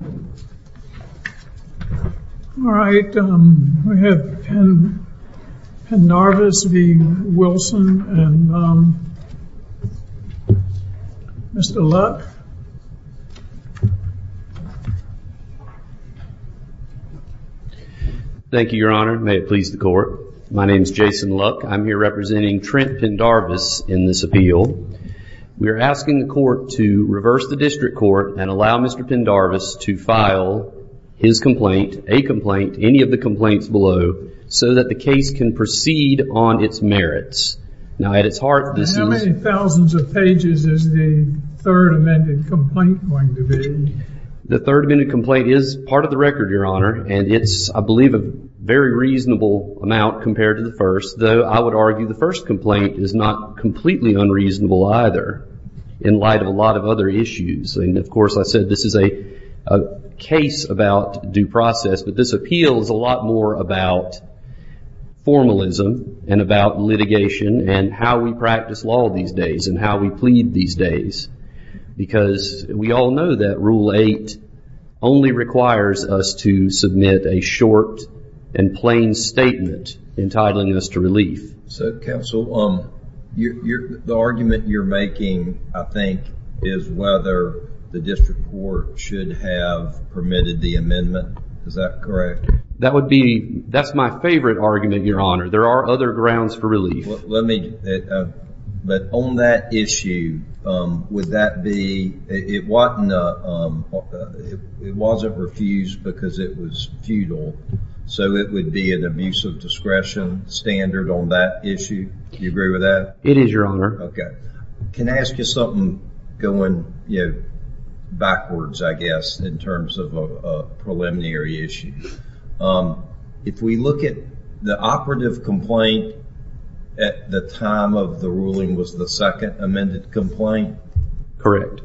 All right we have Pendarvis v. Wilson and Mr. Luck. Thank you your honor. May it please the court. My name is Jason Luck. I'm here representing Trent Pendarvis in this appeal. We are asking the court to reverse the district court and allow Mr. Pendarvis to file his complaint, a complaint, any of the complaints below so that the case can proceed on its merits. Now at its heart this is... How many thousands of pages is the third amended complaint going to be? The third amended complaint is part of the record your honor and it's I believe a very reasonable amount compared to the first though I would argue the first complaint is not completely unreasonable either in light of a lot of other issues and of course I said this is a case about due process but this appeals a lot more about formalism and about litigation and how we practice law these days and how we plead these days because we all know that rule eight only requires us to submit a short and plain statement entitling us to relief. So the district court should have permitted the amendment is that correct? That would be that's my favorite argument your honor there are other grounds for relief. Let me but on that issue would that be it wasn't refused because it was futile so it would be an abuse of discretion standard on that issue you agree with that? It is your honor. Okay can I ask you something going you know backwards I guess in terms of a preliminary issue if we look at the operative complaint at the time of the ruling was the second amended complaint correct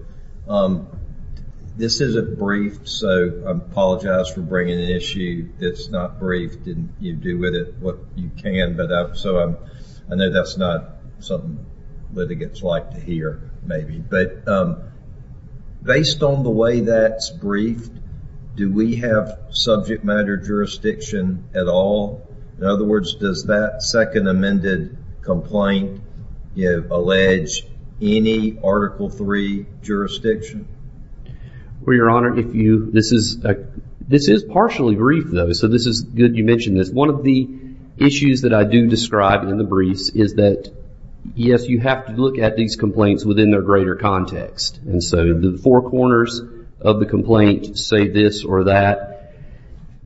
this is a brief so I apologize for bringing an issue that's not brief didn't you do with it what you can but up so I'm I know that's not something litigants like to hear maybe but based on the way that's briefed do we have subject matter jurisdiction at all in other words does that second amended complaint you know allege any article 3 jurisdiction? Well your honor if you this is this is partially brief though so this is good you mentioned this one of the issues that I do describe in the briefs is that yes you have to look at these complaints within their greater context and so the four corners of the complaint say this or that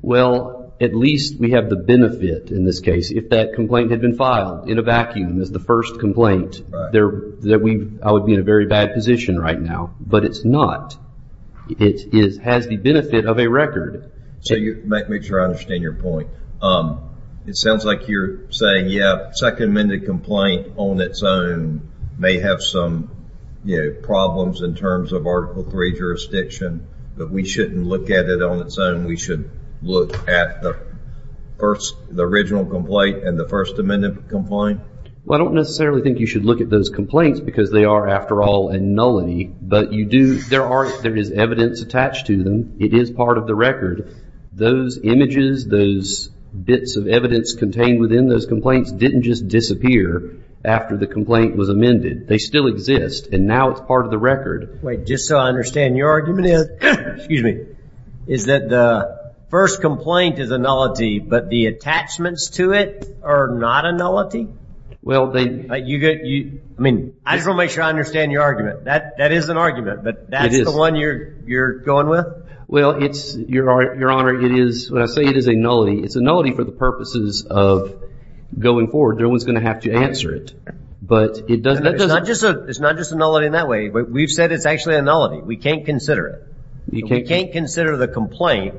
well at least we have the benefit in this case if that complaint had been filed in a vacuum as the first complaint there that we I would be in a very bad position right now but it's not it is has the benefit of a record so you make me sure I understand your point it sounds like you're saying yeah second amended complaint on its own may have some you know problems in terms of article 3 jurisdiction but we shouldn't look at it on its own we should look at the first the original complaint and the first amendment complaint well I don't necessarily think you should look at those complaints because they are after all and nullity but you do there are there is evidence attached to them it is part of the record those images those bits of evidence contained within those complaints didn't just disappear after the complaint was amended they still exist and now it's part of the record wait just so I understand your argument is excuse me is that the first complaint is a nullity but the attachments to it are not a nullity well they you get you I mean I don't make sure I understand your argument that that is an argument but that is the one you're you're going with well it's your art your honor it is when I say it is a nullity it's a nullity for the purposes of going forward no one's gonna have to answer it but it doesn't it's not just a it's not just a nullity in that way but we've said it's actually a nullity we can't consider it you can't can't consider the complaint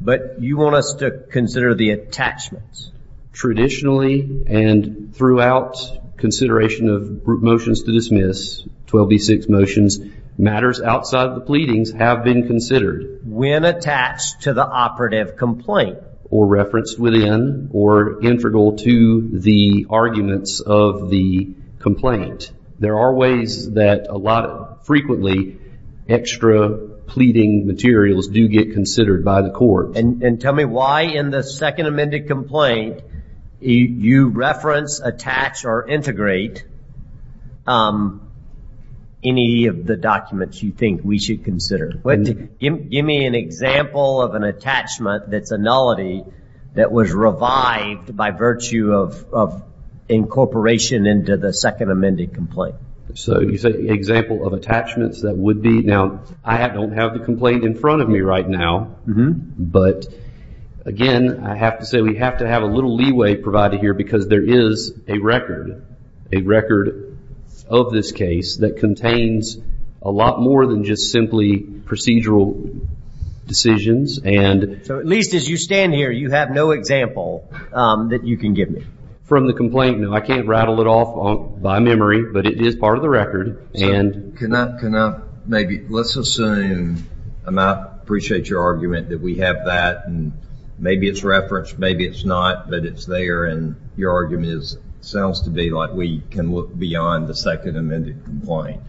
but you want us to consider the attachments traditionally and throughout consideration of motions to dismiss 12b6 motions matters outside the pleadings have been considered when attached to the operative complaint or referenced within or integral to the arguments of the complaint there are ways that a lot of frequently extra pleading materials do get considered by the court and tell me why in the second amended complaint you reference attach or integrate any of the documents you think we should consider give me an example of an attachment that's a nullity that was revived by virtue of incorporation into the second amended complaint so you said example of attachments that would be now I don't have the complaint in front of me right now but again I have to say we have to have a little leeway provided here because there is a record a record of this case that contains a lot more than just simply procedural decisions and so at least as you stand here you have no example that you can give me from the complaint no I can't rattle it off on by memory but it is part of the I appreciate your argument that we have that and maybe it's referenced maybe it's not but it's there and your argument is sounds to be like we can look beyond the second amended complaint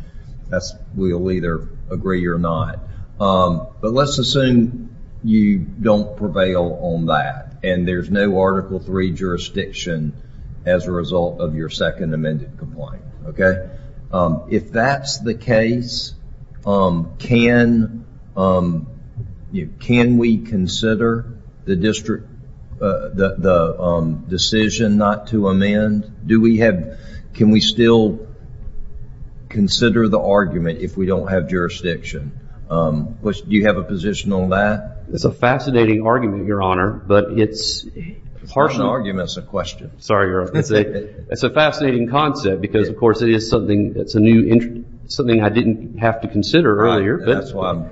that's we'll either agree or not but let's assume you don't prevail on that and there's no article 3 jurisdiction as a result of second amended complaint okay if that's the case can you can we consider the district the decision not to amend do we have can we still consider the argument if we don't have jurisdiction which do you have a position on that it's a fascinating argument your honor but it's personal arguments a question sorry it's a fascinating concept because of course it is something that's a new entry something I didn't have to consider earlier that's why I'm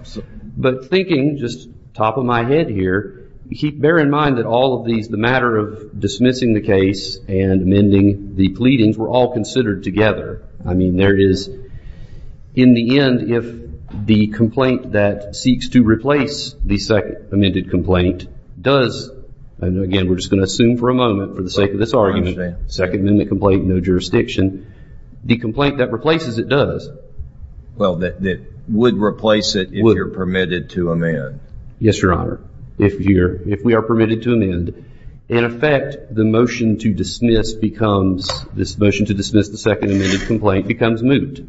but thinking just top of my head here keep bear in mind that all of these the matter of dismissing the case and amending the pleadings were all considered together I mean there is in the end if the complaint that seeks to replace the second amended complaint does and again we're just going to for a moment for the sake of this argument second minute complaint no jurisdiction the complaint that replaces it does well that would replace it you're permitted to amend yes your honor if you're if we are permitted to amend in effect the motion to dismiss becomes this motion to dismiss the second amendment complaint becomes moot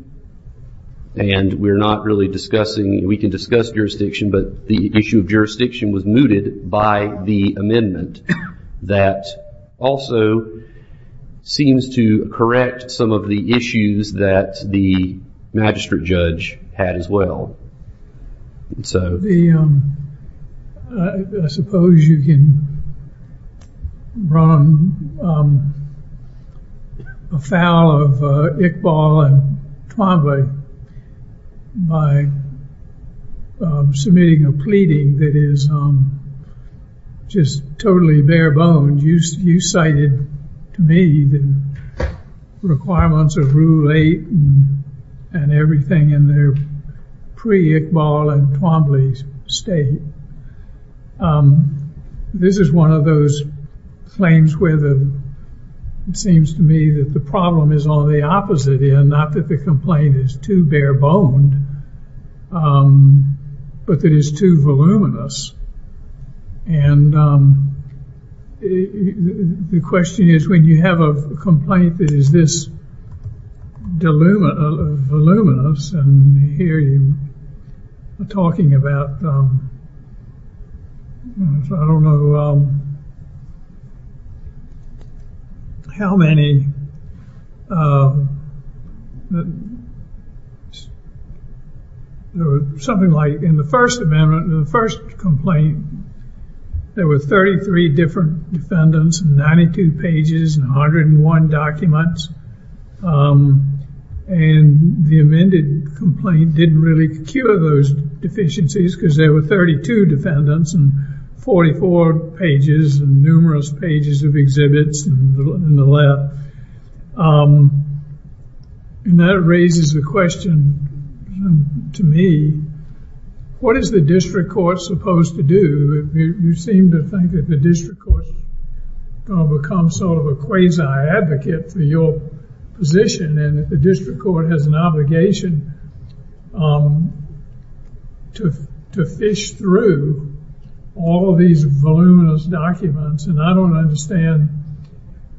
and we're not really discussing we can discuss jurisdiction but the issue of jurisdiction was mooted by the amendment that also seems to correct some of the issues that the magistrate judge had as well so the suppose you can run a foul of Iqbal and Twombly by submitting a that is just totally bare-boned you cited to me the requirements of rule 8 and everything in their pre Iqbal and Twombly state this is one of those claims where the it seems to me that the problem is on the opposite end not that the complaint is too bare-boned but that is too voluminous and the question is when you have a complaint that is this voluminous and here you are about I don't know how many there was something like in the first amendment in the first complaint there were 33 different defendants 92 pages and 101 documents and the amended complaint didn't really cure those deficiencies because there were 32 defendants and 44 pages and numerous pages of exhibits in the left and that raises the question to me what is the district court supposed to do you seem to think that the district court will become sort of a advocate for your position and that the district court has an obligation to fish through all these voluminous documents and I don't understand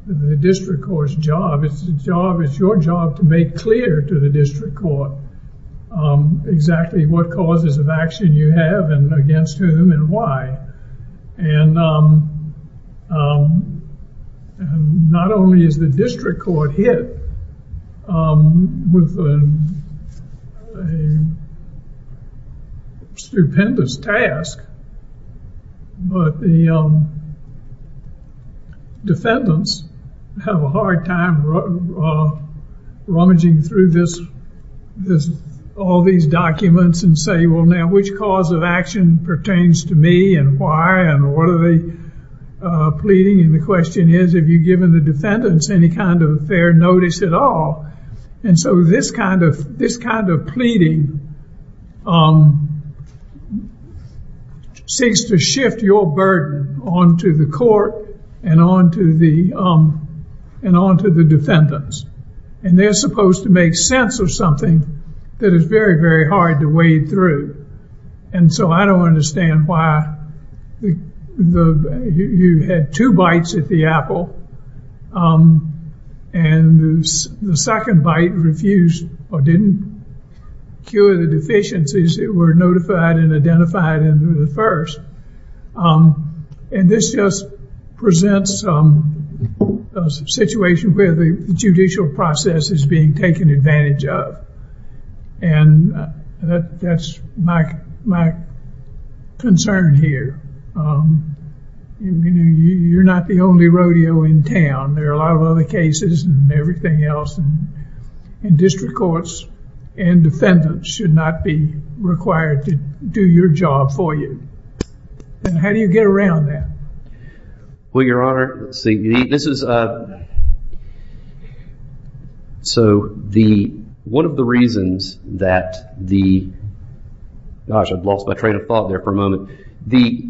the district court's job it's the job it's your job to make clear to the district court exactly what causes of action you have and against whom and why and not only is the district court hit with a stupendous task but the defendants have a hard time rummaging through this this all these documents and say well now which cause of action pertains to me and why and what are they pleading and the question is have you given the defendants any kind of fair notice at all and so this kind of this kind of pleading seeks to shift your burden on to the court and on to the and on to the defendants and they're supposed to make sense of something that is very very hard to wade through and so I don't understand why the you had two bites at the apple and the second bite refused or didn't cure the deficiencies that were notified and identified in the first and this just presents a situation where the judicial process is being taken advantage of and that's my concern here you know you're not the only rodeo in town there are a lot of other cases and everything else and district courts and defendants should not be required to do your job for you and how do you get around that well your honor see this is uh so the one of the reasons that the gosh I've lost my train of thought there for a moment the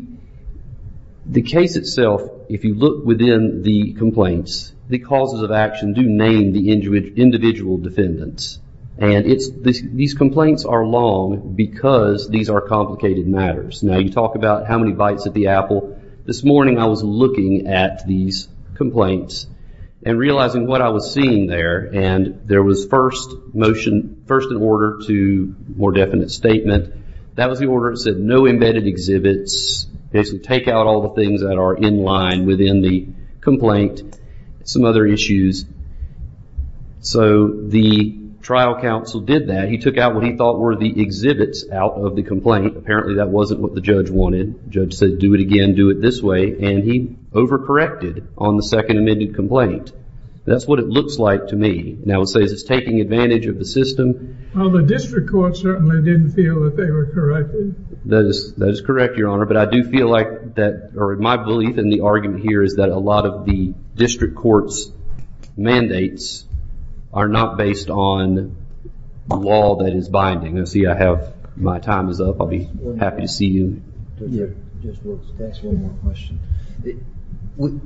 the case itself if you look within the complaints the causes of action do name the injury individual defendants and it's these complaints are long because these are complicated matters now you talk about how many bites at the apple this morning I was looking at these complaints and realizing what I was seeing there and there was first motion first in order to more definite statement that was the order said no embedded exhibits basically take out all the things that within the complaint some other issues so the trial counsel did that he took out what he thought were the exhibits out of the complaint apparently that wasn't what the judge wanted judge said do it again do it this way and he overcorrected on the second minute complaint that's what it looks like to me now it says it's taking advantage of the system on the district court certainly didn't feel that they were corrected that is correct your honor but I do feel like that or my belief in the argument here is that a lot of the district courts mandates are not based on the wall that is binding and see I have my time is up I'll be happy to see you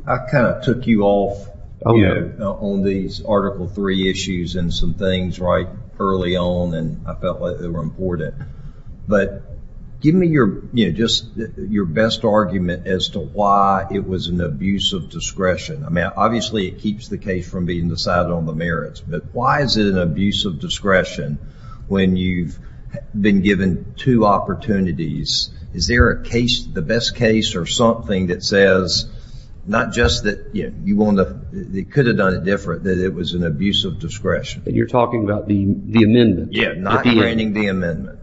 I kind of took you off oh yeah on these article three issues and some things right early on and I felt like they were important but give me your you know just your best argument as to why it was an abuse of discretion I mean obviously it keeps the case from being decided on the merits but why is it an abuse of discretion when you've been given two opportunities is there a case the best case or something that says not just that you want to they could have done it different that it was an abuse of discretion you're talking about the the amendment yeah not training the amendment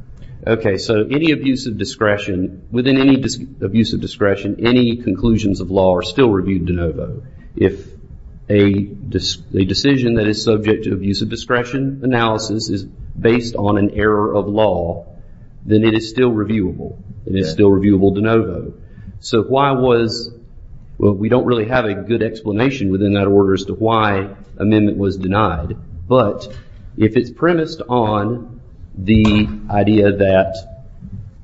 okay so any abuse of discretion within any abuse of discretion any conclusions of law are still reviewed de novo if a just a decision that is subject to abuse of discretion analysis is based on an error of law then it is still reviewable it is still reviewable de novo so why was well we don't really have a good explanation within that order as to why amendment was denied but if it's premised on the idea that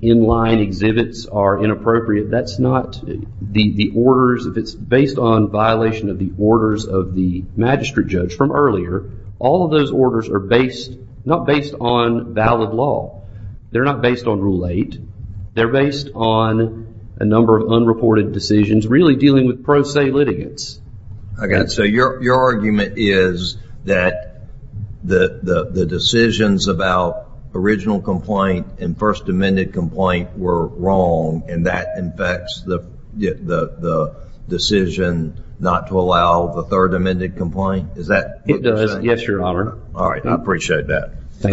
in line exhibits are inappropriate that's not the the orders if it's based on violation of the orders of the magistrate judge from earlier all of those orders are based not based on valid law they're not based on rule 8 they're based on a number of unreported decisions really dealing with pro se litigants I got so your argument is that the the decisions about original complaint and first amended complaint were wrong and that infects the decision not to allow the third amended complaint yes your honor all right I appreciate that the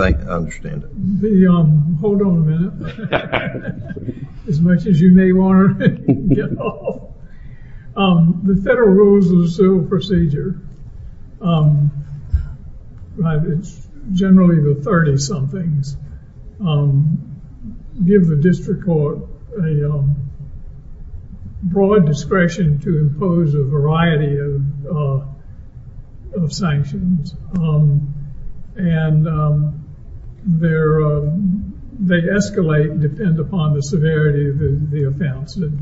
federal rules of the civil procedure it's generally the 30-somethings give the district court a broad discretion to impose a variety of sanctions and there they escalate depend upon the severity of the offense and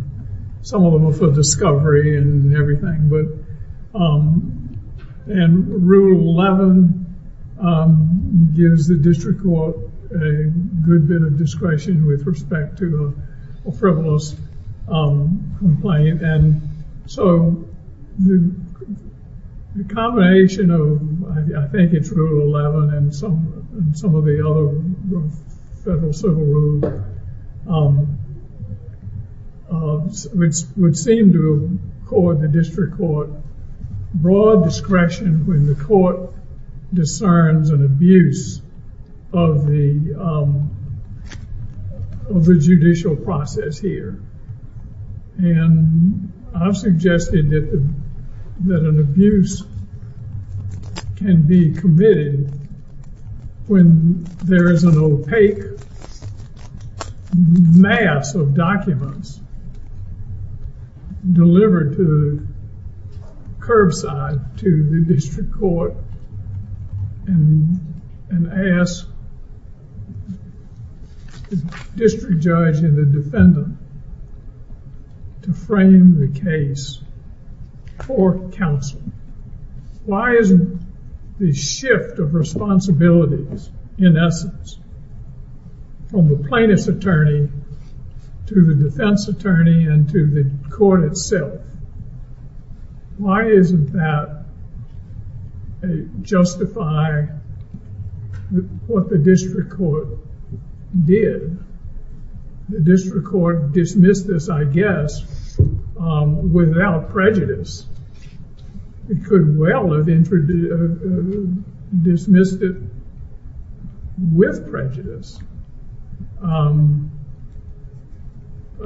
some of them are for discovery and everything but and rule 11 gives the district court a good bit of discretion with respect to a frivolous complaint and so the combination of I think it's rule 11 and some some of the other federal civil rules which would seem to accord the district court broad discretion when the court discerns an abuse of the of the judicial process here and I've suggested that that an abuse can be committed when there is an opaque mass of documents delivered to curbside to the district court and and ask district judge and the defendant to frame the case for counsel why isn't the shift of responsibilities in essence from the plaintiff's attorney to the what the district court did the district court dismissed this I guess without prejudice it could well have introduced dismissed it with prejudice I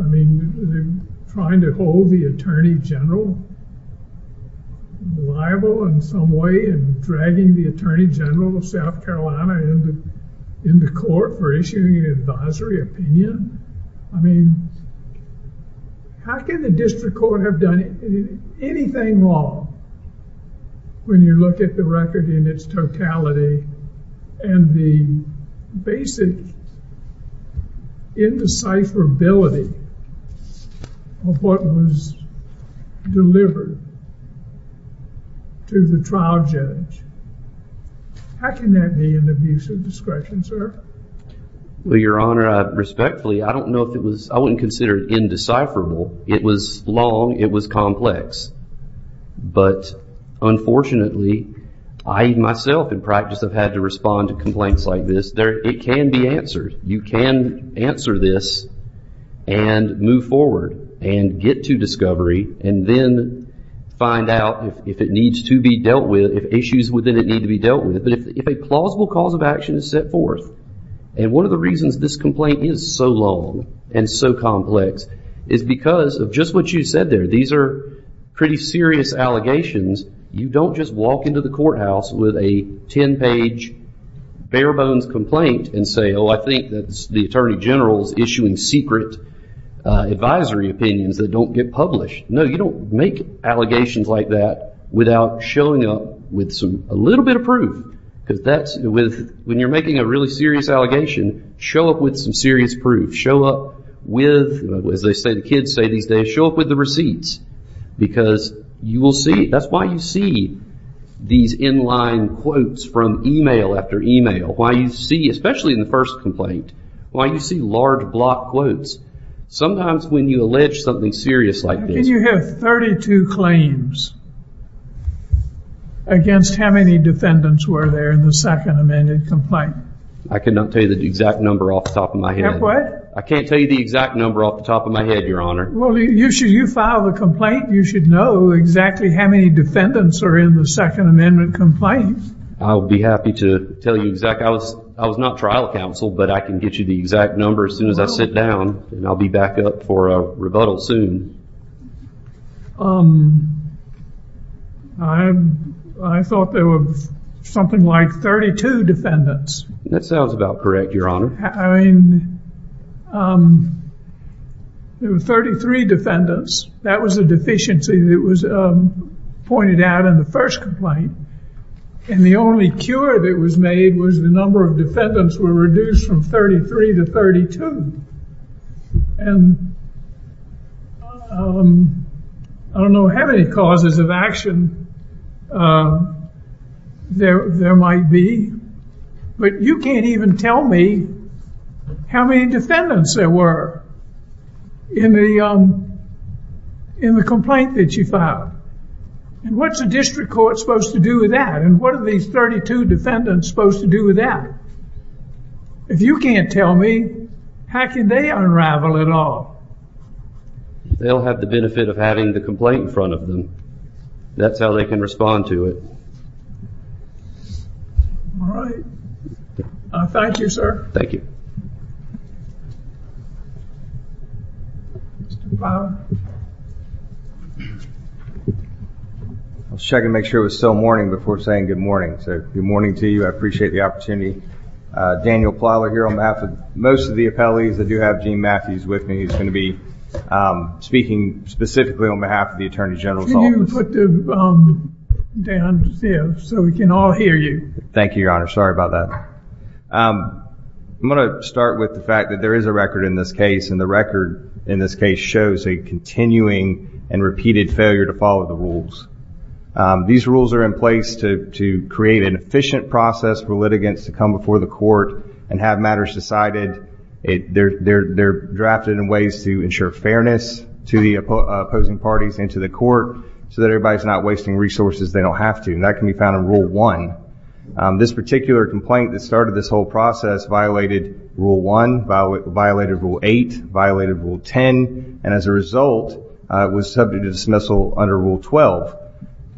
mean trying to hold the attorney general liable in some way and dragging the attorney general of South Carolina in the in the court for issuing an advisory opinion I mean how can the district court have done anything wrong when you look at the record in its and the basic indecipherability of what was delivered to the trial judge how can that be an abusive discretion sir well your honor respectfully I don't know if it was I wouldn't consider it indecipherable it was long it was but unfortunately I myself in practice have had to respond to complaints like this there it can be answered you can answer this and move forward and get to discovery and then find out if it needs to be dealt with issues within it need to be dealt with it but if a plausible cause of action is set forth and one of the reasons this complaint is so long and so complex is because of just what you said there these are pretty serious allegations you don't just walk into the courthouse with a 10 page bare bones complaint and say oh I think that's the attorney general's issuing secret advisory opinions that don't get published no you don't make allegations like that without showing up with some a little bit of proof because that's with when you're making a really serious allegation show up with some serious proof show up with as they say the kids say these days show up with the receipts because you will see that's why you see these inline quotes from email after email why you see especially in the first complaint why you see large block quotes sometimes when you allege something serious like this you have 32 claims against how many defendants were there in the second amended complaint I cannot tell you the exact number off the top of my head what I can't tell you the exact number off the top of my head your honor well you should you file a complaint you should know exactly how many defendants are in the second amendment complaint I'll be happy to tell you exact I was I was not trial counsel but I can get you the exact number as soon as I sit down and I'll be back up for a rebuttal soon I thought there was something like 32 defendants that sounds about correct your honor I mean there were 33 defendants that was a deficiency that was pointed out in the first complaint and the only cure that was made was the number of defendants were reduced from 33 to 32 and I don't know how many causes of action there might be but you can't even tell me how many defendants there were in the in the complaint that you filed and what's the district court supposed to do with that and what are these 32 defendants supposed to do with that if you can't tell me how can they unravel it all they'll have the benefit of having the complaint in front of them that's how they can respond to it all right thank you sir thank you I was checking to make sure it was still morning before saying good morning so good morning to you I appreciate the opportunity Daniel Plowler here on behalf of most of the appellees that do have Gene Matthews with me he's going to be speaking specifically on behalf of the Attorney General so we can all hear you thank you your honor sorry about that I'm gonna start with the fact that there is a record in this case and the record in this case shows a continuing and repeated failure to follow the rules these rules are in place to create an efficient process for litigants to come before the court and have matters decided it they're they're they're drafted in ways to ensure fairness to the opposing parties into the court so that everybody's not wasting resources they don't have to and that can be found in rule one this particular complaint that started this whole process violated rule one violated rule eight violated rule ten and as a result was subject to dismissal under rule twelve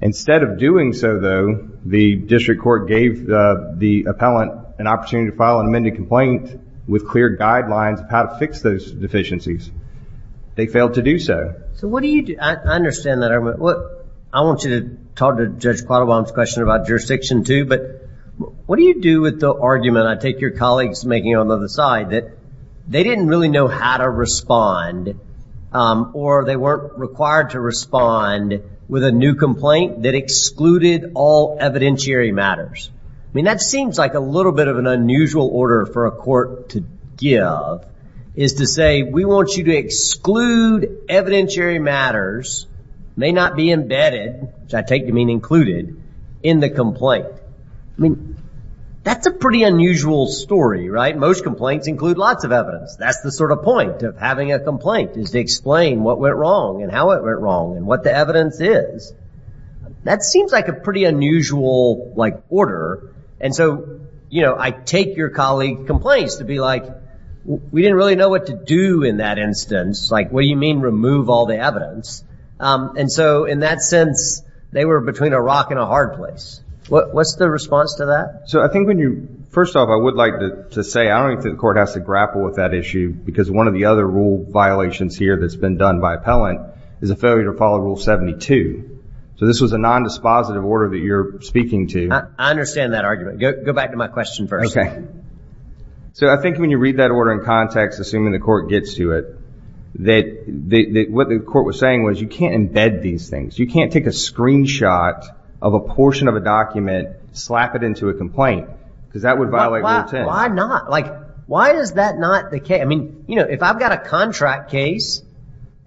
instead of doing so though the district court gave the appellant an opportunity to file an amended complaint with clear guidelines of how to fix those deficiencies they failed to do so so what do you do I understand that I would what I want you to talk to judge caught a bombs question about jurisdiction to but what do you do with the argument I take your colleagues making on the other side that they didn't really know how to respond or they weren't required to respond with a new complaint that excluded all evidentiary matters I mean that seems like a little bit of an unusual order for a court to give is to say we want you to exclude evidentiary matters may not be embedded which I take to mean included in the complaint I mean that's a pretty unusual story right most complaints include lots of evidence that's the sort of point of having a complaint is to explain what went wrong and how it went wrong and what the evidence is that seems like a pretty unusual like order and so you know I take your colleague complains to be like we didn't really know what to do in that instance like what do you mean remove all the evidence and so in that sense they were between a rock and a hard place what's the response to that so I think when you first off I would like to say I don't think the court has to grapple with that issue because one of the other rule violations here that's done by appellant is a failure to follow rule 72 so this was a non dispositive order that you're speaking to I understand that argument go back to my question first okay so I think when you read that order in context assuming the court gets to it that what the court was saying was you can't embed these things you can't take a screenshot of a portion of a document slap it into a complaint because that would violate why not like why is that not the case I mean if I've got a contract case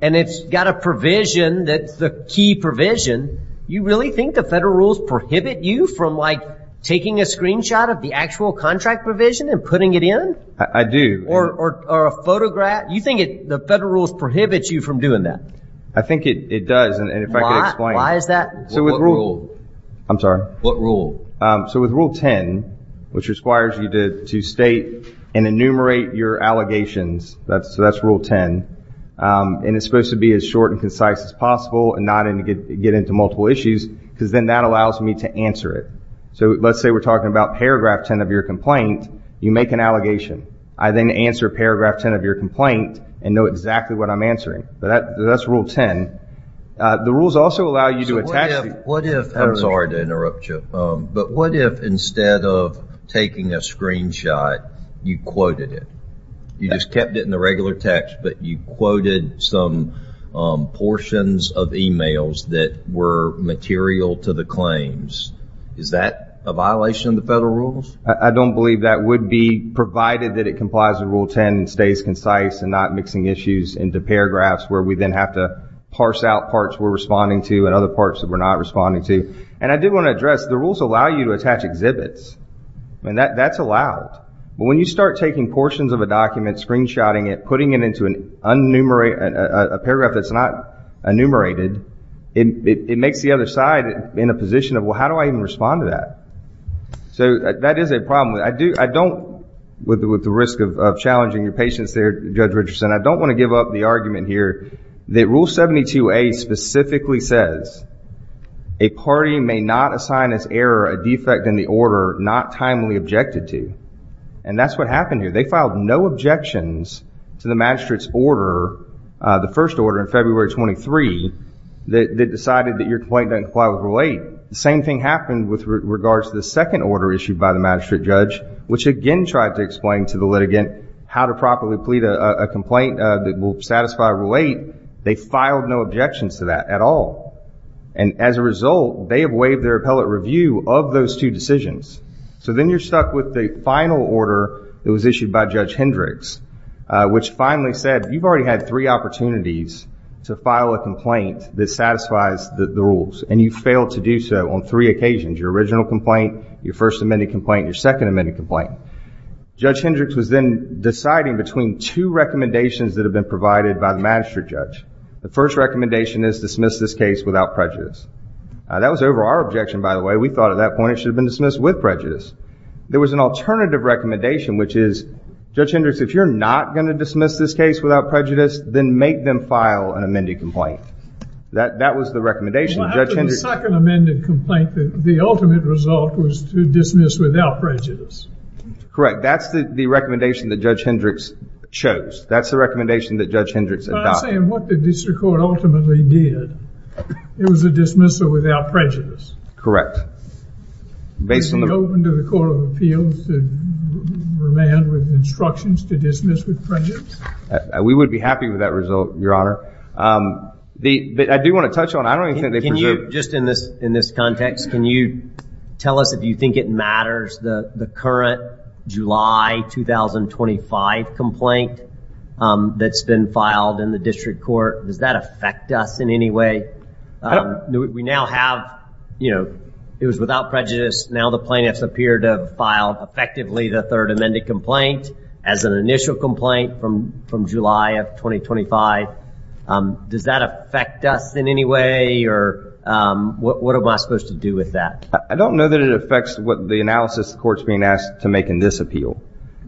and it's got a provision that's the key provision you really think the federal rules prohibit you from like taking a screenshot of the actual contract provision and putting it in I do or a photograph you think it the federal rules prohibits you from doing that I think it does and if I could explain why is that so with rule I'm sorry what rule so with rule 10 which requires you did to state and enumerate your allegations that's so that's rule 10 and it's supposed to be as short and concise as possible and not in to get get into multiple issues because then that allows me to answer it so let's say we're talking about paragraph 10 of your complaint you make an allegation I then answer paragraph 10 of your complaint and know exactly what I'm answering but that that's rule 10 the rules also allow you to attach what if I'm sorry to interrupt you but what if instead of taking a screenshot you quoted it you just kept it in the regular text but you quoted some portions of emails that were material to the claims is that a violation of the federal rules I don't believe that would be provided that it complies with rule 10 and stays concise and not mixing issues into paragraphs where we then have to parse out parts we're responding to and other parts that we're not responding to and I do want to address the rules allow you to attach exhibits and that that's allowed but when you start taking portions of a document screenshotting it putting it into an unnumerated a paragraph that's not enumerated it makes the other side in a position of well how do I even respond to that so that is a problem I do I don't with the risk of challenging your patience there judge Richardson I don't want to give up the argument here the rule 72a specifically says a party may not assign as error a defect in the order not timely objected to and that's what happened here they filed no objections to the magistrate's order the first order in February 23 that they decided that your complaint doesn't apply with relate the same thing happened with regards to the second order issued by the magistrate judge which again tried to explain to the litigant how to properly plead a complaint that will satisfy relate they filed no objections to that at all and as a result they have waived their appellate review of those two decisions so then you're stuck with the final order that was issued by judge Hendricks which finally said you've already had three opportunities to file a complaint that satisfies the rules and you fail to do so on three occasions your original complaint your first amended complaint your second amended complaint judge Hendricks was then deciding between two recommendations that have been provided by the magistrate judge the first recommendation is dismissed this case without prejudice that was over our objection by the way we thought at that point it should have been dismissed with prejudice there was an alternative recommendation which is judge Hendricks if you're not going to dismiss this case without prejudice then make them file an amended complaint that that was the recommendation second amended complaint that the ultimate result was to dismiss without prejudice correct that's the recommendation that judge Hendricks chose that's the recommendation that judge Hendricks ultimately did it was a dismissal without prejudice correct basically open to the Court of Appeals with instructions to dismiss with prejudice we would be happy with that result your honor the I do want to touch on I don't think they can you just in this in this context can you tell us if you think it matters the the current July 2025 complaint that's been filed in the district court does that affect us in any way we now have you know it was without prejudice now the plaintiffs appear to have filed effectively the third amended complaint as an initial complaint from from July of 2025 does that affect us in any way or what am I supposed to do with that I don't know that it affects what the analysis courts being asked to make in this appeal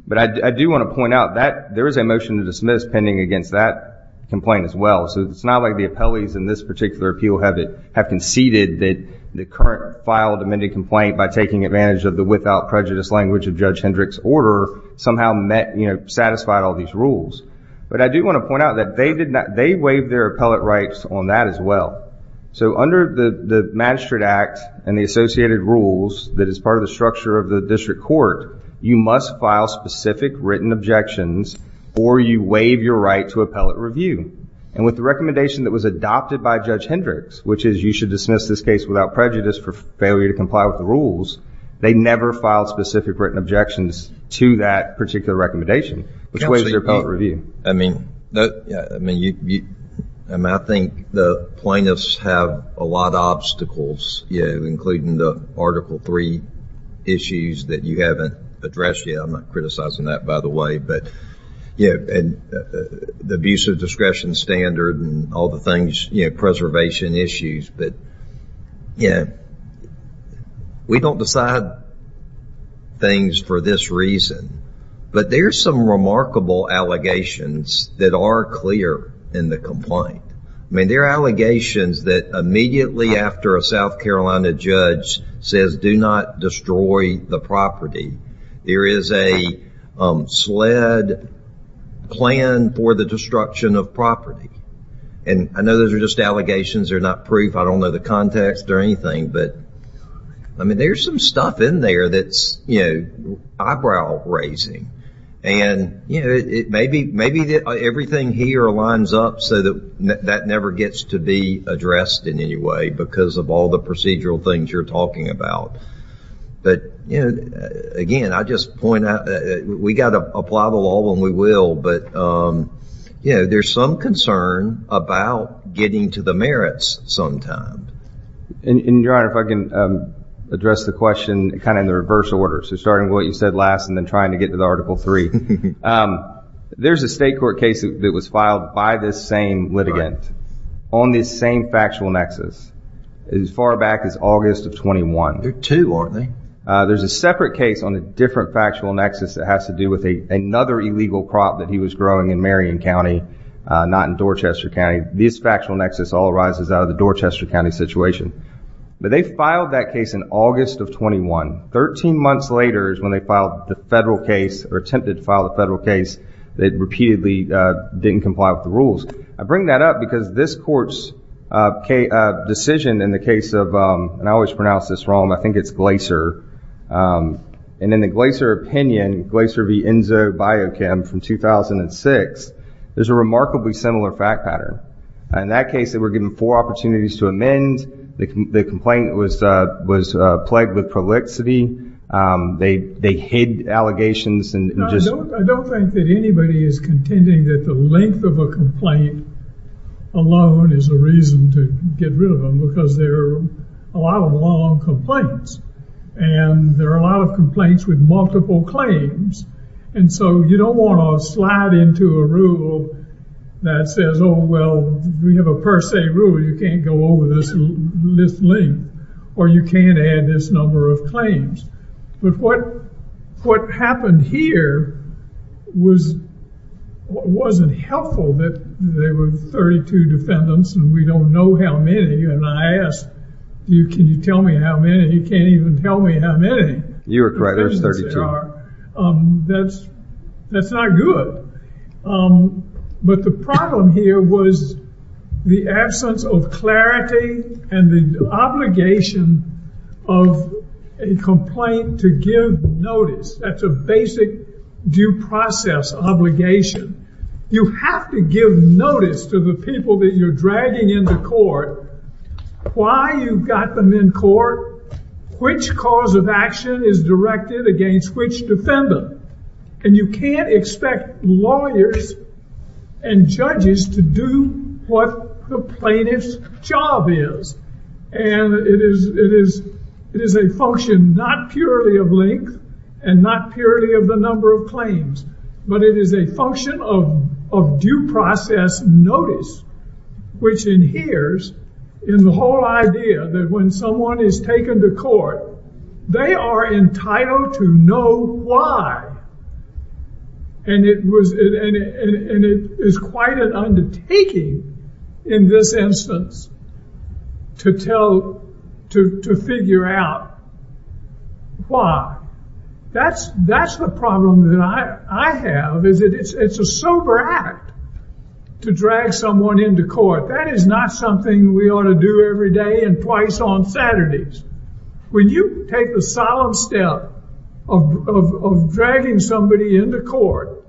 but I do want to point out that there is a motion to dismiss pending against that complaint as well so it's not like the appellees in this particular appeal have it have conceded that the current file amended complaint by taking advantage of the without prejudice language of judge Hendricks order somehow met you know satisfied all these rules but I do want to point out that they did not they waive their appellate rights on that as well so under the the magistrate act and the associated rules that is part of the structure of the district court you must file specific written objections or you waive your right to appellate review and with the recommendation that was adopted by judge Hendricks which is you should dismiss this case without prejudice for failure to comply with the rules they never filed specific written objections to that particular recommendation which weighs their power review I mean I mean you and I think the plaintiffs have a lot of obstacles yeah including the article three issues that you haven't addressed yeah I'm not criticizing that by the way but yeah and the abuse of discretion standard and all the things you know preservation issues but yeah we don't decide things for this reason but there's some remarkable allegations that are clear in the complaint I mean there are allegations that immediately after a South Carolina judge says do not destroy the property there is a sled plan for the destruction of property and I know those are just allegations they're not proof I don't know the context or anything but I mean there's some stuff in there that's you know eyebrow-raising and you know it may be maybe that everything here lines up so that that never gets to be addressed in any way because of all the procedural things you're talking about but you know again I just point out that we got to apply the law when we will but you know there's some concern about getting to the merits sometime and your honor if I can address the question kind of in the you said last and then trying to get to the article 3 there's a state court case that was filed by this same litigant on this same factual nexus as far back as August of 21 there too are they there's a separate case on a different factual nexus that has to do with a another illegal crop that he was growing in Marion County not in Dorchester County this factual nexus all arises out of the Dorchester County situation but they filed that case in August of 21 13 months later is when they filed the federal case or attempted to file a federal case that repeatedly didn't comply with the rules I bring that up because this court's decision in the case of and I always pronounce this wrong I think it's Glacier and in the Glacier opinion Glacier v Enzo biochem from 2006 there's a remarkably similar fact pattern in that case they were given four opportunities to amend the complaint was was plagued with they they hid allegations and just I don't think that anybody is contending that the length of a complaint alone is a reason to get rid of them because there are a lot of long complaints and there are a lot of complaints with multiple claims and so you don't want to slide into a rule that says oh well we have a per se rule you can't go over this list link or you can't add this number of claims but what what happened here was wasn't helpful that they were 32 defendants and we don't know how many and I asked you can you tell me how many you can't even tell me how many you're right there's 32 that's that's not good but the problem here was the absence of clarity and the obligation of a complaint to give notice that's a basic due process obligation you have to give notice to the people that you're dragging into court why you've got them in court which cause of action is directed against which defendant and you can't expect lawyers and judges to do what the plaintiff's job is and it is it is a function not purely of length and not purely of the number of claims but it is a function of due process notice which inheres in the whole idea that when someone is taken to court they are entitled to know why and it was and it is quite an undertaking in this instance to tell to figure out why that's that's the problem that I I have is it's it's a sober act to drag someone into court that is not something we ought to do every day and twice on Saturdays when you take the solemn step of dragging somebody into court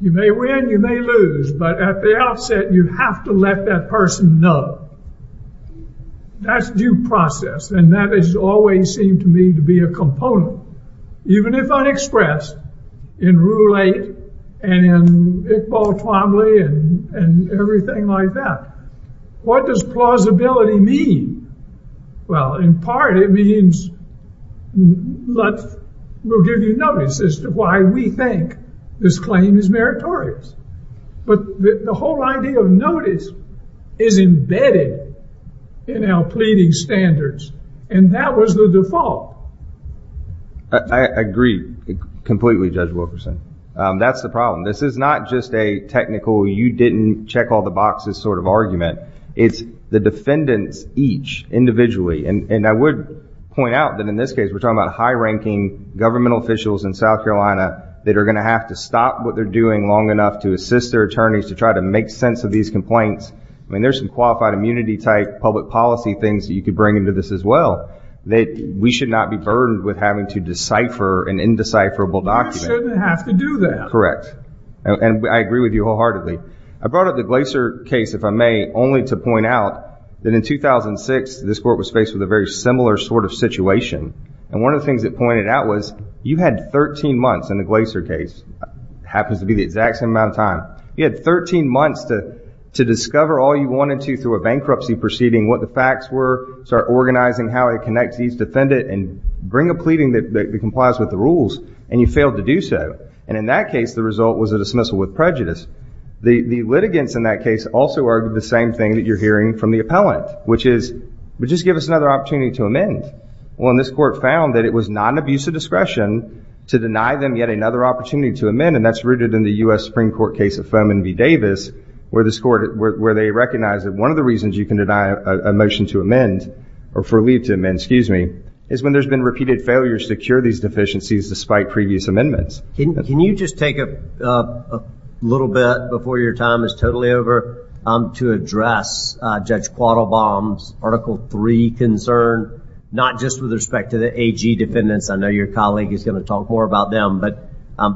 you may win you may lose but at the outset you have to let that person know that's due process and that is always seemed to me to be a component even if unexpressed in rule 8 and in Iqbal Twombly and and everything like that what does plausibility mean well in part it means let's will give you notice as to why we think this claim is meritorious but the whole idea of notice is embedded in our pleading standards and that was the default I agree completely judge Wilkerson that's the problem this is not just a technical you didn't check all the boxes sort of it's the defendants each individually and and I would point out that in this case we're talking about high-ranking governmental officials in South Carolina that are going to have to stop what they're doing long enough to assist their attorneys to try to make sense of these complaints I mean there's some qualified immunity type public policy things that you could bring into this as well that we should not be burdened with having to decipher an indecipherable document have to do that correct and I agree with you wholeheartedly I brought only to point out that in 2006 this court was faced with a very similar sort of situation and one of the things that pointed out was you had 13 months in the Glaser case happens to be the exact same amount of time you had 13 months to to discover all you wanted to through a bankruptcy proceeding what the facts were start organizing how it connects these defendant and bring a pleading that complies with the rules and you failed to do so and in that case the result was a dismissal with prejudice the the litigants in that case also are the same thing that you're hearing from the appellant which is but just give us another opportunity to amend well in this court found that it was not an abuse of discretion to deny them yet another opportunity to amend and that's rooted in the US Supreme Court case of foam and be Davis where this court where they recognize that one of the reasons you can deny a motion to amend or for leave to amend excuse me is when there's been repeated failures to cure these deficiencies despite previous amendments can you just take a little bit before your time is totally over I'm to address judge quaddle bombs article 3 concern not just with respect to the AG defendants I know your colleague is going to talk more about them but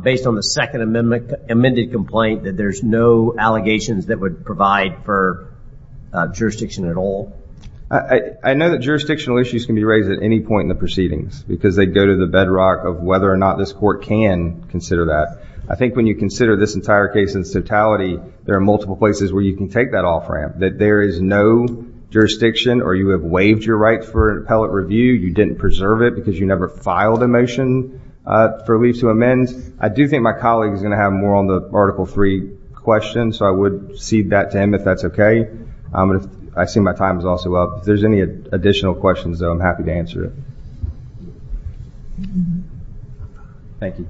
based on the second amendment amended complaint that there's no allegations that would provide for jurisdiction at all I know that jurisdictional issues can be raised at any point in the proceedings because they go to the bedrock of whether or not this court can consider that I think when you consider this entire case in totality there are multiple places where you can take that off-ramp that there is no jurisdiction or you have waived your right for an appellate review you didn't preserve it because you never filed a motion for leave to amend I do think my colleague is going to have more on the article 3 question so I would see that to him if that's okay I'm gonna I see my time is also up there's any additional questions I'm happy to answer it thank you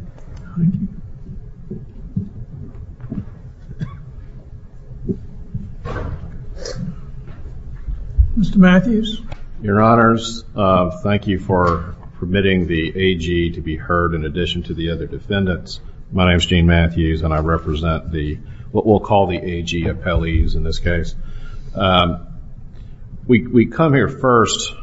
mr. Matthews your honors thank you for permitting the AG to be heard in addition to the other defendants my name is Gene Matthews and I represent the we'll call the AG appellees in this case we come here first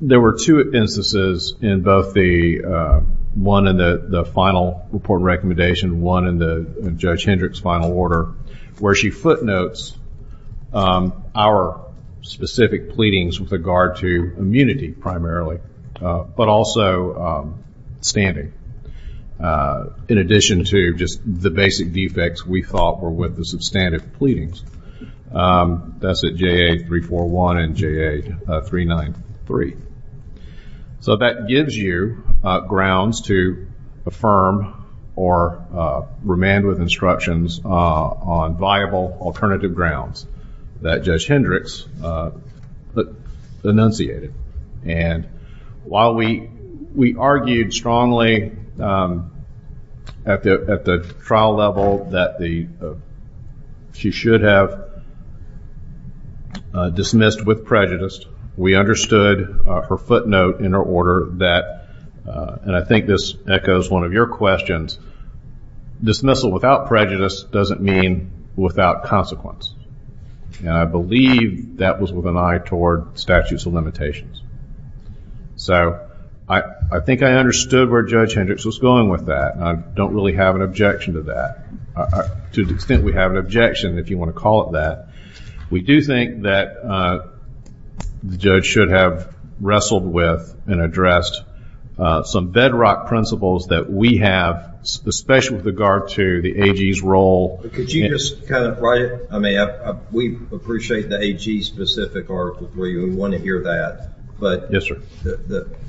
there were two instances in both the one and the the final report recommendation one in the judge Hendricks final order where she footnotes our specific pleadings with regard to immunity primarily but also standing in addition to just the basic defects we thought were with the substantive pleadings that's a ja341 and ja393 so that gives you grounds to affirm or remand with instructions on viable alternative grounds that judge Hendricks but enunciated and while we argued strongly at the at the trial level that the she should have dismissed with prejudice we understood her footnote in her order that and I think this echoes one of your questions dismissal without prejudice doesn't mean without consequence and I believe that was with an eye toward statutes of limitations so I I think I understood where judge Hendricks was going with that I don't really have an objection to that to the extent we have an objection if you want to call it that we do think that the judge should have wrestled with and addressed some bedrock principles that we have especially with regard to the AG's role could you just kind of write it I mean we appreciate the AG specific article 3 we want to hear that but yes sir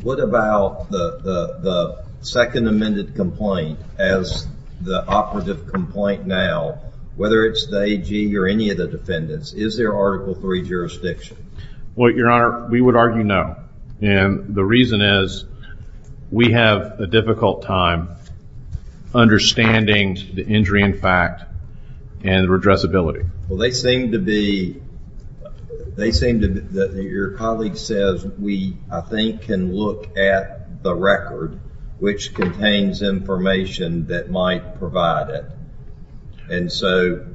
what about the second amended complaint as the operative complaint now whether it's the AG or any of the defendants is there article 3 jurisdiction what your honor we would argue no and the reason is we have a difficult time understanding the injury in fact and redress ability well they seem to be they seem to your colleague says we I think can look at the record which contains information that might provide it and so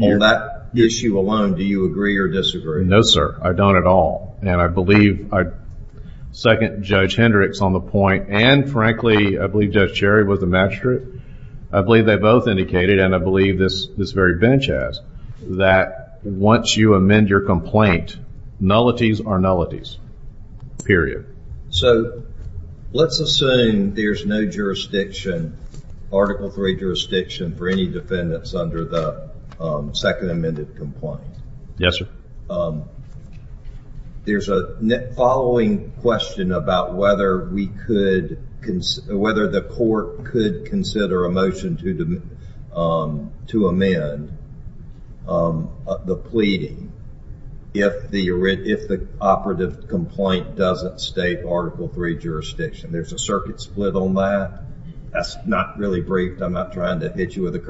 on that issue alone do you agree or disagree no sir I don't at all and I believe I second judge Hendricks on the point and frankly I believe judge Sherry was the magistrate I believe they both indicated and I believe this this very bench has that once you amend your complaint nullities are nullities period so let's assume there's no jurisdiction article 3 jurisdiction for any defendants under the second amended complaint yes sir there's a following question about whether we could consider whether the court could consider a motion to the to amend the pleading if the if the operative complaint doesn't state article 3 jurisdiction there's a circuit split on that that's not really briefed I'm not trying to hit you with a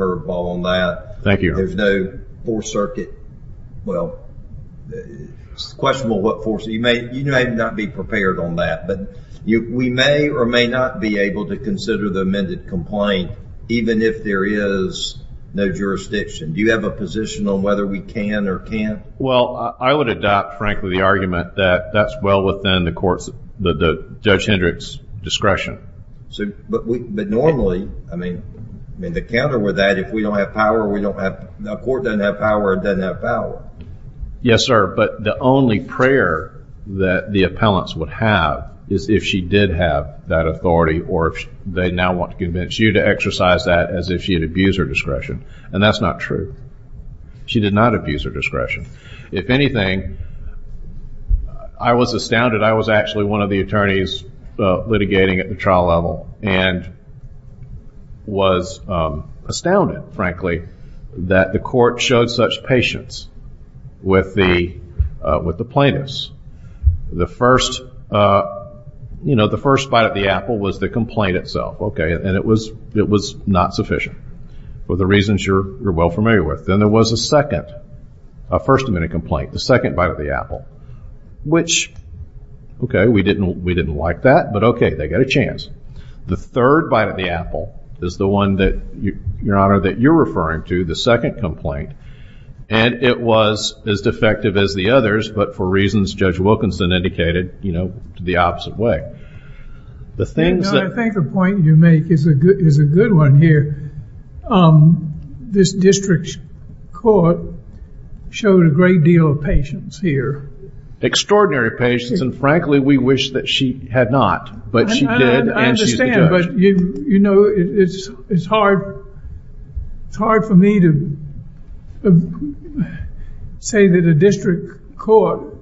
questionable what force you may you may not be prepared on that but you we may or may not be able to consider the amended complaint even if there is no jurisdiction do you have a position on whether we can or can't well I would adopt frankly the argument that that's well within the courts the judge Hendricks discretion so but we but normally I mean I mean the counter with that if we don't have power we don't have the court doesn't have power it yes sir but the only prayer that the appellants would have is if she did have that authority or if they now want to convince you to exercise that as if she had abused her discretion and that's not true she did not abuse her discretion if anything I was astounded I was actually one of the attorneys litigating at the level and was astounded frankly that the court showed such patience with the with the plaintiffs the first you know the first bite of the apple was the complaint itself okay and it was it was not sufficient for the reasons you're you're well familiar with then there was a second a first amendment complaint the second bite of the apple which okay we didn't we didn't like that but okay they got a chance the third bite of the apple is the one that you your honor that you're referring to the second complaint and it was as defective as the others but for reasons judge Wilkinson indicated you know the opposite way the things that point you make is a good is a good one here this district court showed a great deal of patience here extraordinary patience and frankly we wish that she had not but you you know it's it's hard it's hard for me to say that a district court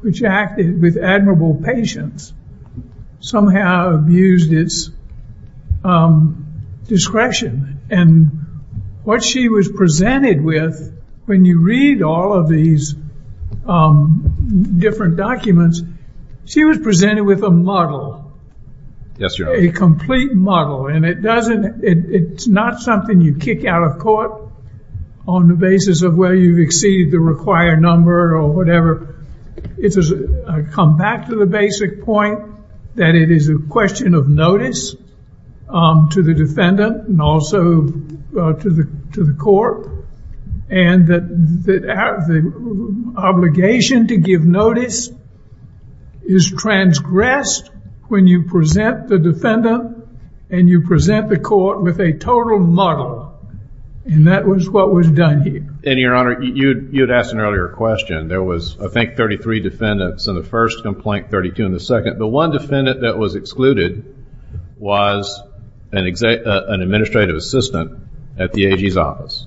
which acted with admirable patience somehow abused its discretion and what she was presented with when you read all of these different documents she was presented with a model yes you're a complete model and it doesn't it's not something you kick out of court on the basis of where you exceed the required number or whatever it's a comeback to the basic point that it is a question of notice to the defendant and also to the to the court and that the obligation to give notice is transgressed when you present the defendant and you present the court with a total model and that was what was done here and your honor you'd you'd asked an earlier question there was I think 33 defendants in the first complaint 32 in the second the one defendant that was excluded was an executive an administrative assistant at the AG's office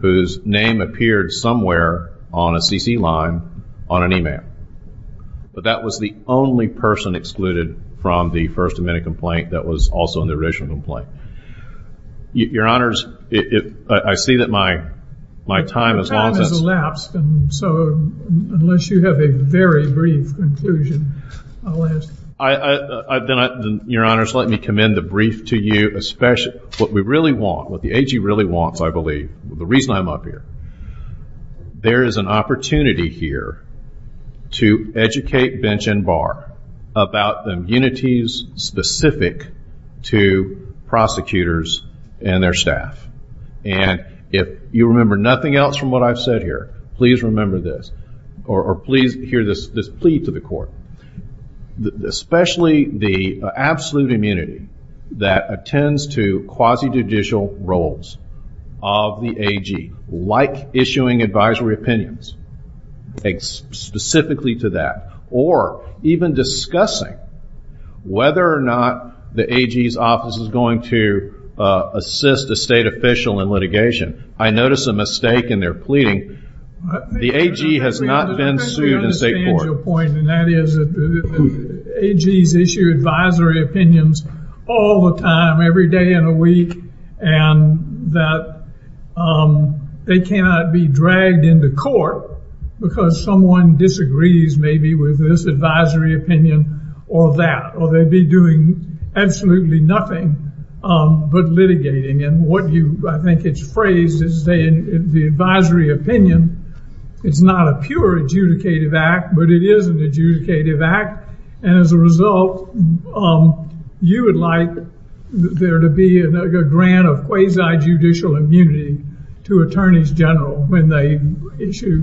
whose name appeared somewhere on a CC line on an email but that was the only person excluded from the First Amendment complaint that was also in the original complaint your honors it I see that my my time as long as elapsed and so unless you have a very brief conclusion I've done it your honors let me commend the brief to you especially what we really want what the AG really wants I believe the reason I'm up here there is an opportunity here to educate bench and bar about the immunities specific to prosecutors and their staff and if you remember nothing else from what I've said here please remember this or please hear this this plea to the court especially the absolute immunity that attends to quasi judicial roles of the AG like issuing advisory opinions thanks specifically to that or even discussing whether or not the AG's office is going to assist a state official in litigation I notice a mistake in their pleading the AG has not been sued in state court. I understand your point and that is that the AG's issue advisory opinions all the time every day in a week and that they cannot be dragged into court because someone disagrees maybe with this advisory opinion or that or they'd be doing absolutely nothing but litigating and what you I think it's phrased as saying the advisory opinion it's not a pure adjudicative act but it is an adjudicative act and as a result you would like there to be another grant of quasi judicial immunity to attorneys general when they issue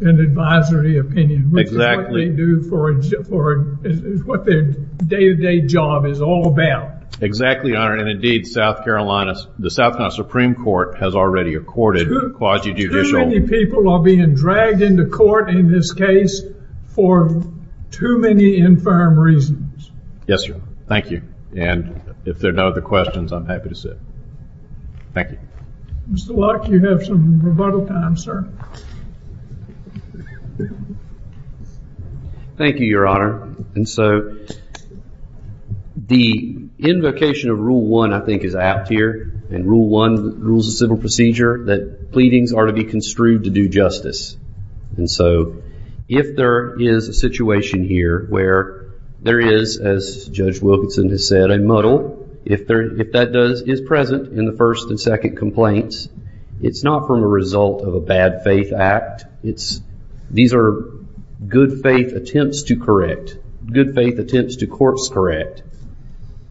an advisory opinion exactly do for it is what their day-to-day job is all about exactly honored and indeed South Carolina's the South Carolina Supreme Court has already accorded quasi judicial people are being dragged into court in this case for too many infirm reasons yes sir thank you and if there are no other questions I'm happy to sit thank you mr. luck you have some rebuttal time sir thank you your honor and so the invocation of rule one I think is out here and rule one rules a civil procedure that pleadings are to be instrued to do justice and so if there is a situation here where there is as judge Wilkinson has said I muddle if there if that does is present in the first and second complaints it's not from a result of a bad faith act it's these are good faith attempts to correct good faith attempts to corpse correct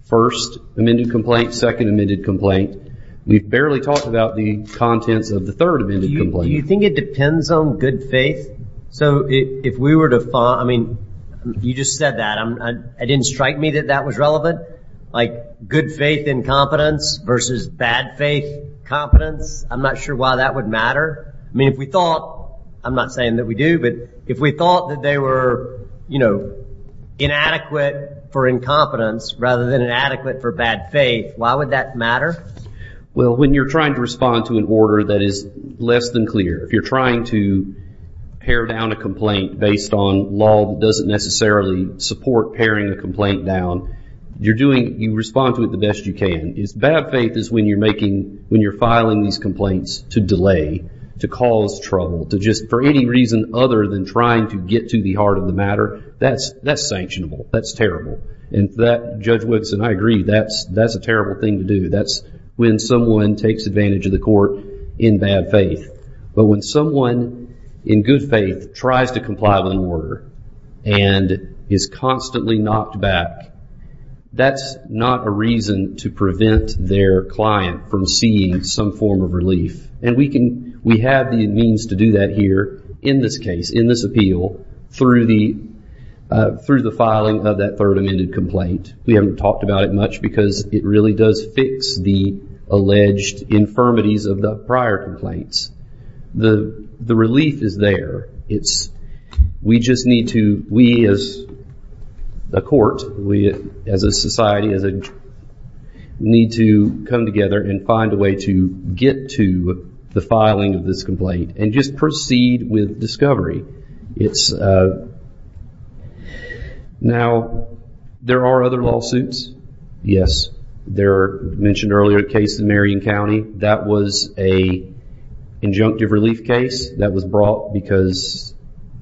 first amended complaint second amended complaint we've barely talked about the contents of the third you think it depends on good faith so if we were to fall I mean you just said that I'm I didn't strike me that that was relevant like good faith incompetence versus bad faith competence I'm not sure why that would matter I mean if we thought I'm not saying that we do but if we thought that they were you know inadequate for incompetence rather than an adequate for bad faith why would that matter well when you're trying to respond to an order that is less than clear if you're trying to pare down a complaint based on law doesn't necessarily support pairing the complaint down you're doing you respond to it the best you can it's bad faith is when you're making when you're filing these complaints to delay to cause trouble to just for any reason other than trying to get to the heart of the matter that's that's sanctionable that's terrible and that judge Woodson I agree that's that's a terrible thing to do that's when someone takes advantage of the court in bad faith but when someone in good faith tries to comply with an order and is constantly knocked back that's not a reason to prevent their client from seeing some form of relief and we can we have the means to do that here in this case in this appeal through the through the filing of that third amended complaint we haven't talked about it much because it really does fix the alleged infirmities of the prior complaints the the relief is there it's we just need to we as a court we as a society as a need to come together and find a way to get to the filing of this complaint and just proceed with discovery it's now there are other lawsuits yes there mentioned earlier a case in Marion County that was a injunctive relief case that was brought because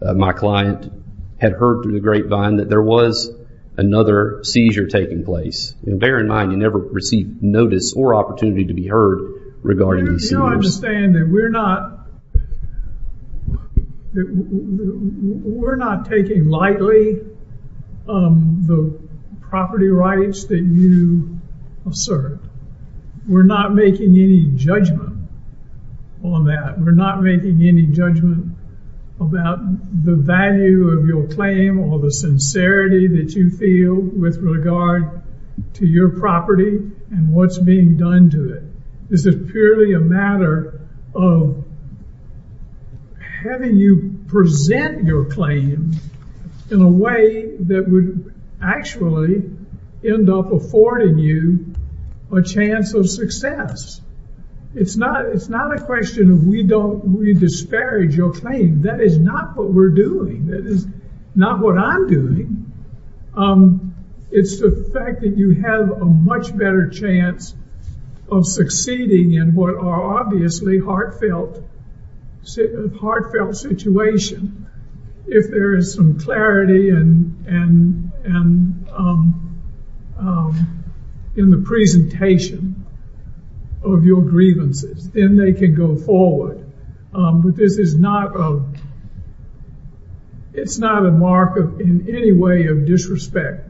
my client had heard through the grapevine that there was another seizure taking place and bear in receive notice or opportunity to be heard regarding we're not we're not taking lightly the property rights that you serve we're not making any judgment on that we're not making any judgment about the value of your claim or the that you feel with regard to your property and what's being done to it is it purely a matter of having you present your claim in a way that would actually end up affording you a chance of success it's not it's not a question of we don't we disparage your claim that is not what we're doing that is not what I'm doing it's the fact that you have a much better chance of succeeding in what are obviously heartfelt heartfelt situation if there is some clarity and and and in the presentation of your grievances then they can go forward but this is not a it's not a mark of in any way of disrespect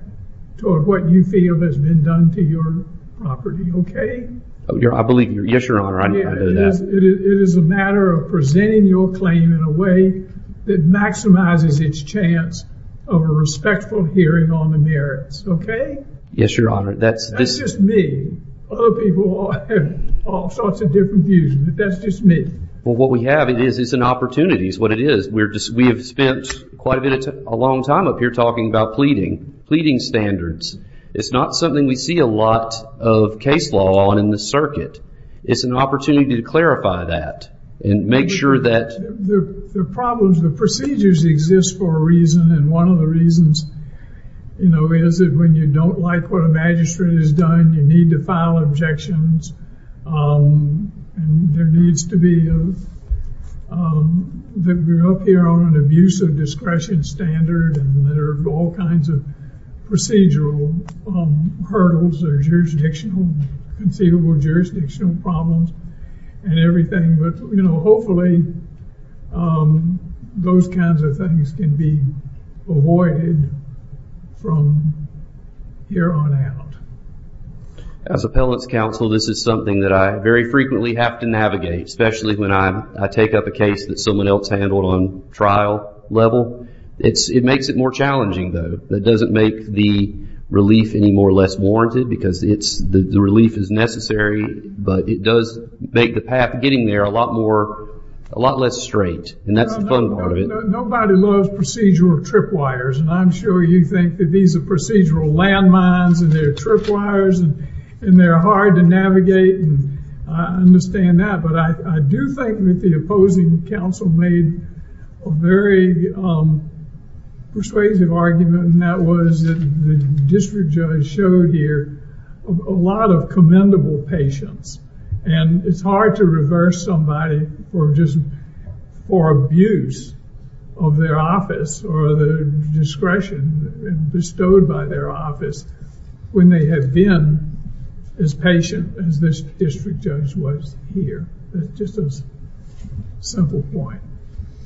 toward what you feel has been done to your property okay I believe your yes your honor I know that it is a matter of presenting your claim in a way that maximizes its chance of a respectful hearing on the merits okay yes your honor that's just me all sorts of different views but that's just me well what we have it is it's an opportunity is what it is we're just we have spent quite a bit of a long time up here talking about pleading pleading standards it's not something we see a lot of case law on in the circuit it's an opportunity to clarify that and make sure that the problems the procedures exist for a reason and one of the reasons you know is that when you don't like what a magistrate is done you need to file objections and there needs to be that we're up here on an abuse of discretion standard and there are all kinds of procedural hurdles or jurisdictional conceivable jurisdictional problems and everything but you know hopefully those kinds of things can be avoided from here on out as appellants counsel this is something that I very frequently have to navigate especially when I take up a case that someone else handled on trial level it's it makes it more challenging though that doesn't make the relief any more less warranted because it's the relief is necessary but it does make the path getting there a lot more a lot less straight and that's the fun part of it nobody loves procedural tripwires and I'm sure you think that these are procedural landmines and they're tripwires and they're hard to navigate and I understand that but I do think that the opposing counsel made a very persuasive argument and that was the district judge showed here a lot of commendable patience and it's hard to reverse somebody or just for abuse of their office or the discretion bestowed by their office when they have been as patient as this district judge was here just a simple point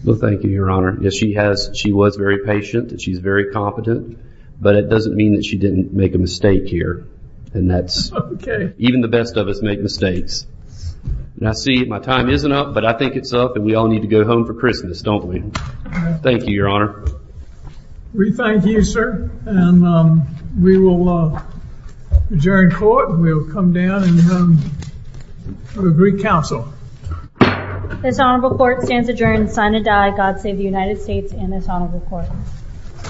well thank you your honor yes she has she was very patient that she's very competent but it doesn't mean that she didn't make a mistake here and that's okay even the best of us make mistakes and I see my time isn't up but I think it's up and we all need to go home for Christmas don't we thank you your honor we thank you sir and we will adjourn court we'll come down and the Greek Council this honorable court stands adjourned sign a die God save the United States in this honorable court